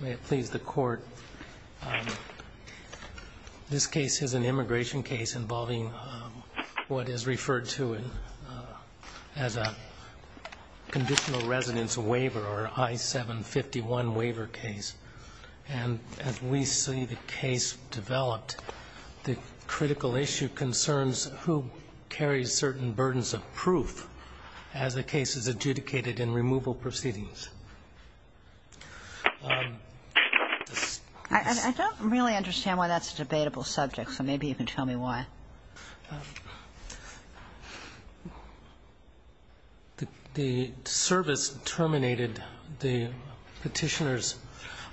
May it please the Court, this case is an immigration case involving what is referred to as a Conditional Residence Waiver or I-751 waiver case. And as we see the case developed, the critical issue concerns who carries certain burdens of proof as the case is adjudicated in removal proceedings. I don't really understand why that's a debatable subject, so maybe you can tell me why. The service terminated the Petitioner's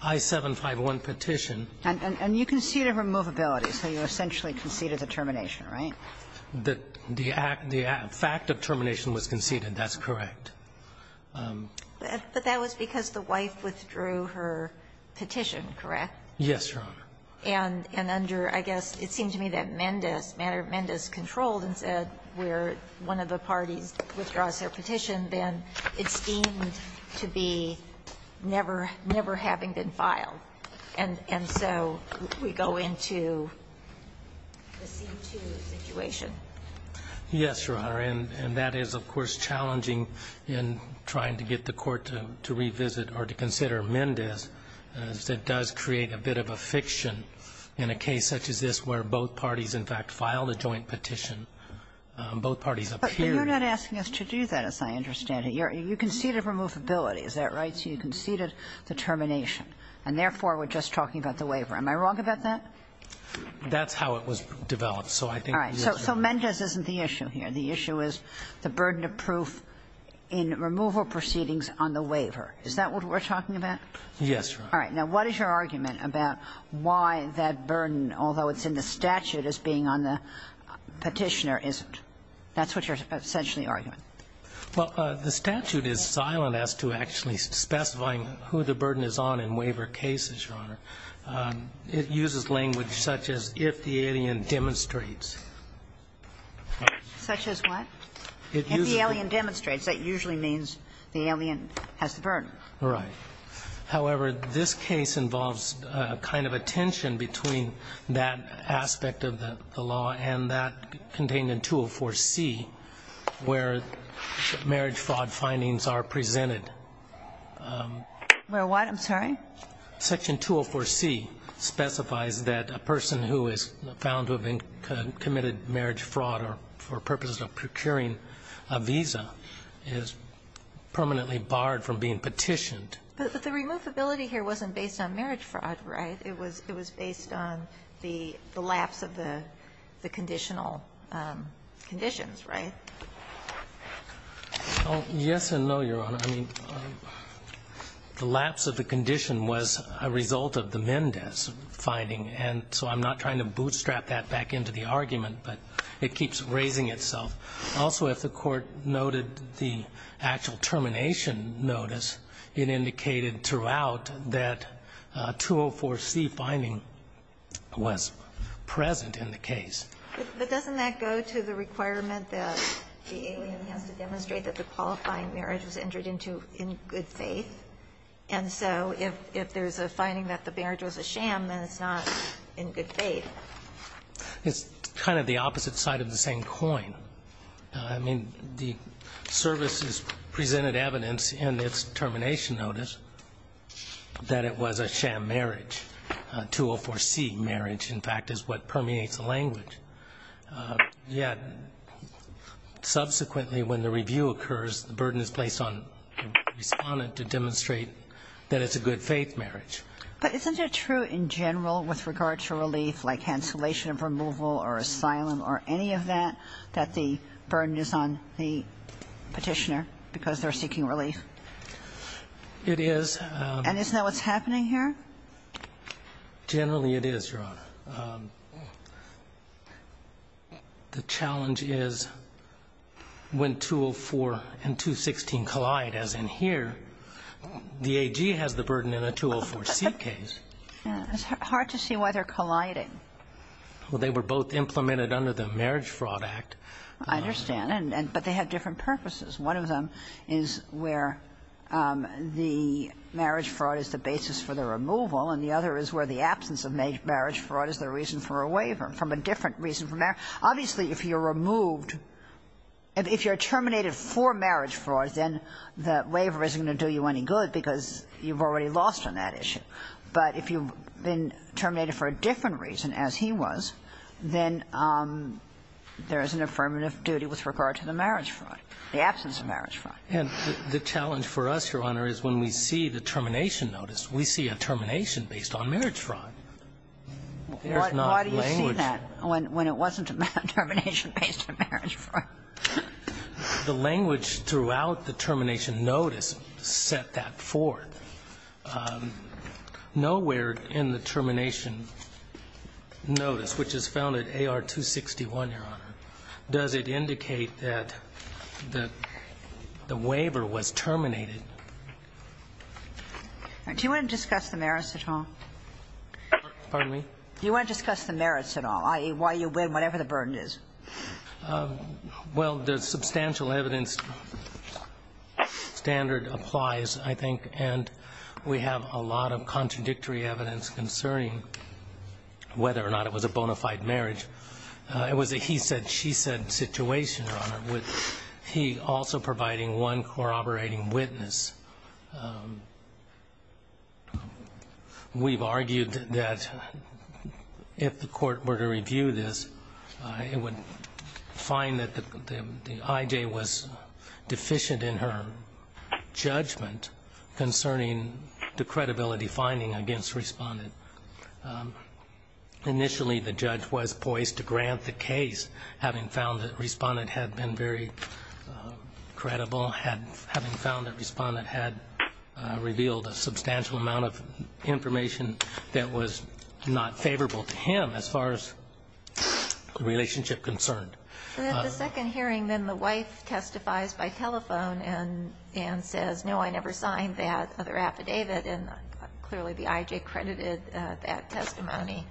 I-751 petition. And you conceded removability, so you essentially conceded the termination, right? The fact of termination was conceded. That's correct. But that was because the wife withdrew her petition, correct? Yes, Your Honor. And under, I guess, it seemed to me that Mendes controlled and said where one of the parties withdraws their petition, then it's deemed to be never having been filed. And so we go into the C-2 situation. Yes, Your Honor. And that is, of course, challenging in trying to get the Court to revisit or to consider Mendes. It does create a bit of a fiction in a case such as this where both parties, in fact, filed a joint petition. Both parties appeared. But you're not asking us to do that, as I understand it. You conceded removability, is that right? So you conceded the termination. And therefore, we're just talking about the waiver. Am I wrong about that? That's how it was developed. All right. So Mendes isn't the issue here. The issue is the burden of proof in removal proceedings on the waiver. Is that what we're talking about? Yes, Your Honor. All right. Now, what is your argument about why that burden, although it's in the statute as being on the petitioner, isn't? That's what you're essentially arguing. Well, the statute is silent as to actually specifying who the burden is on in waiver cases, Your Honor. It uses language such as if the alien demonstrates. Such as what? If the alien demonstrates. That usually means the alien has the burden. Right. However, this case involves a kind of a tension between that aspect of the law and that contained in 204C where marriage fraud findings are presented. Where what? I'm sorry? Section 204C specifies that a person who is found to have committed marriage fraud or for purposes of procuring a visa is permanently barred from being petitioned. But the removability here wasn't based on marriage fraud, right? It was based on the lapse of the conditional conditions, right? Yes and no, Your Honor. I mean, the lapse of the condition was a result of the Mendez finding, and so I'm not trying to bootstrap that back into the argument, but it keeps raising itself. Also, if the Court noted the actual termination notice, it indicated throughout that 204C finding was present in the case. But doesn't that go to the requirement that the alien has to demonstrate that the qualifying marriage was entered into in good faith? And so if there's a finding that the marriage was a sham, then it's not in good faith. It's kind of the opposite side of the same coin. I mean, the services presented evidence in its termination notice that it was a sham marriage. 204C marriage, in fact, is what permeates the language. Yet subsequently when the review occurs, the burden is placed on the Respondent to demonstrate that it's a good faith marriage. But isn't it true in general with regard to relief, like cancellation of removal or asylum or any of that, that the burden is on the Petitioner because they're seeking relief? It is. And isn't that what's happening here? Generally it is, Your Honor. The challenge is when 204 and 216 collide, as in here, the AG has the burden in a 204C case. It's hard to see why they're colliding. Well, they were both implemented under the Marriage Fraud Act. I understand. But they have different purposes. One of them is where the marriage fraud is the basis for the removal, and the other is where the absence of marriage fraud is the reason for a waiver from a different reason for marriage. Obviously, if you're removed, if you're terminated for marriage fraud, then the waiver isn't going to do you any good because you've already lost on that issue. But if you've been terminated for a different reason, as he was, then there is an affirmative duty with regard to the marriage fraud, the absence of marriage fraud. And the challenge for us, Your Honor, is when we see the termination notice, we see a termination based on marriage fraud. There's not language. Why do you say that when it wasn't a termination based on marriage fraud? The language throughout the termination notice set that forth. Nowhere in the termination notice, which is found at AR 261, Your Honor, does it indicate that the waiver was terminated. Do you want to discuss the merits at all? Pardon me? Do you want to discuss the merits at all, i.e., why you win, whatever the burden is? Well, the substantial evidence standard applies, I think, and we have a lot of contradictory evidence concerning whether or not it was a bona fide marriage. It was a he said, she said situation, Your Honor, with he also providing one corroborating witness. We've argued that if the court were to review this, it would find that the I.J. was deficient in her judgment concerning the credibility finding against Respondent. Initially, the judge was poised to grant the case, having found that Respondent had been very credible, having found that Respondent had revealed a substantial amount of information that was not favorable to him as far as the relationship concerned. And at the second hearing, then the wife testifies by telephone and says, no, I never signed that other affidavit, and clearly the I.J. credited that testimony.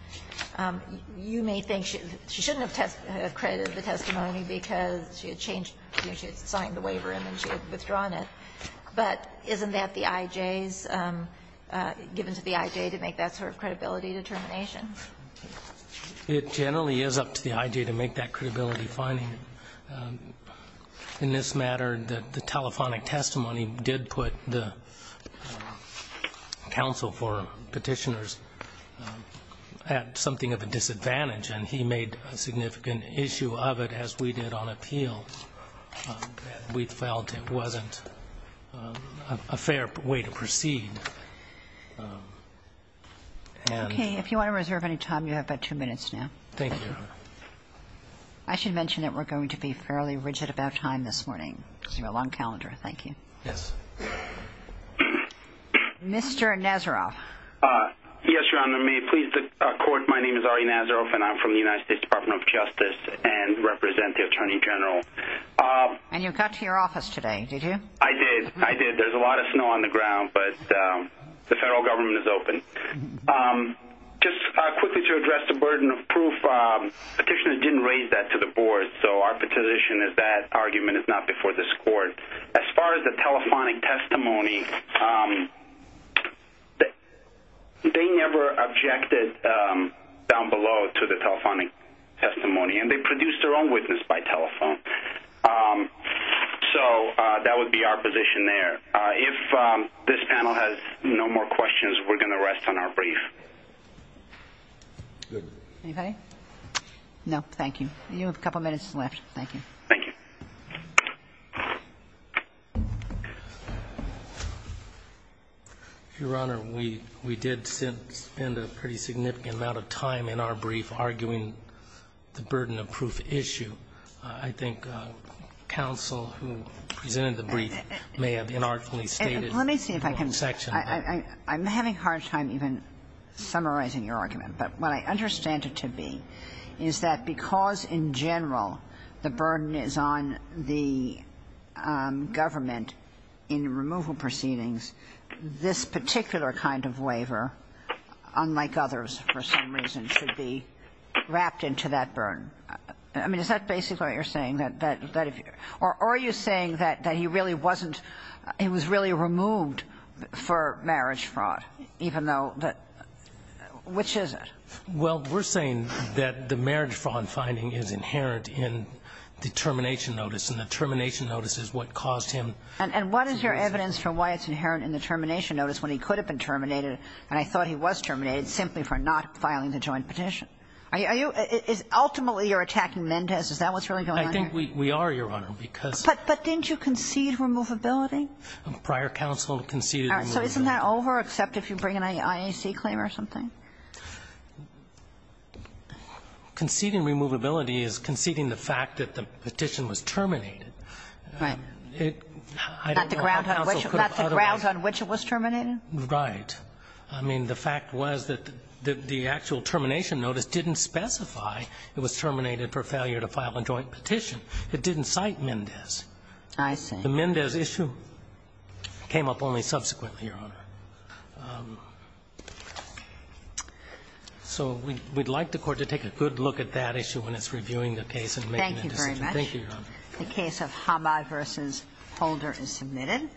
You may think she shouldn't have credited the testimony because she had changed the way she had signed the waiver and then she had withdrawn it. But isn't that the I.J.'s, given to the I.J. to make that sort of credibility determination? It generally is up to the I.J. to make that credibility finding. In this matter, the telephonic testimony did put the counsel for Petitioner's at something of a disadvantage, and he made a significant issue of it, as we did on appeals. We felt it wasn't a fair way to proceed. Okay. If you want to reserve any time, you have about two minutes now. Thank you, Your Honor. I should mention that we're going to be fairly rigid about time this morning. It's a long calendar. Thank you. Yes. Mr. Nazaroff. Yes, Your Honor. May it please the Court, my name is Ari Nazaroff, and I'm from the United States Department of Justice and represent the Attorney General. And you got to your office today, did you? I did. I did. There's a lot of snow on the ground, but the federal government is open. Just quickly to address the burden of proof, Petitioner didn't raise that to the Board, so our position is that argument is not before this Court. As far as the telephonic testimony, they never objected down below to the telephonic testimony, and they produced their own witness by telephone. So that would be our position there. If this panel has no more questions, we're going to rest on our brief. Anybody? No, thank you. You have a couple minutes left. Thank you. Your Honor, we did spend a pretty significant amount of time in our brief arguing the burden of proof issue. I think counsel who presented the brief may have inartfully stated the whole section. Let me see if I can. I'm having a hard time even summarizing your argument. But what I understand it to be is that because in general the burden is on the government in removal proceedings, this particular kind of waiver, unlike others for some reason, should be wrapped into that burden. I mean, is that basically what you're saying? Or are you saying that he really wasn't – he was really removed for marriage fraud, even though that – which is it? Well, we're saying that the marriage fraud finding is inherent in the termination notice, and the termination notice is what caused him to lose it. And what is your evidence for why it's inherent in the termination notice when he could have been terminated, and I thought he was terminated, simply for not filing the joint petition? Are you – ultimately you're attacking Mendez? Is that what's really going on here? I think we are, Your Honor, because – But didn't you concede removability? Prior counsel conceded – So isn't that over except if you bring an IAC claim or something? Conceding removability is conceding the fact that the petition was terminated. Right. I don't know how counsel could have otherwise – Not the grounds on which it was terminated? Right. I mean, the fact was that the actual termination notice didn't specify it was terminated for failure to file a joint petition. It didn't cite Mendez. I see. The Mendez issue came up only subsequently, Your Honor. So we'd like the Court to take a good look at that issue when it's reviewing the case and making a decision. Thank you very much. Thank you, Your Honor. The case of Hamai v. Holder is submitted.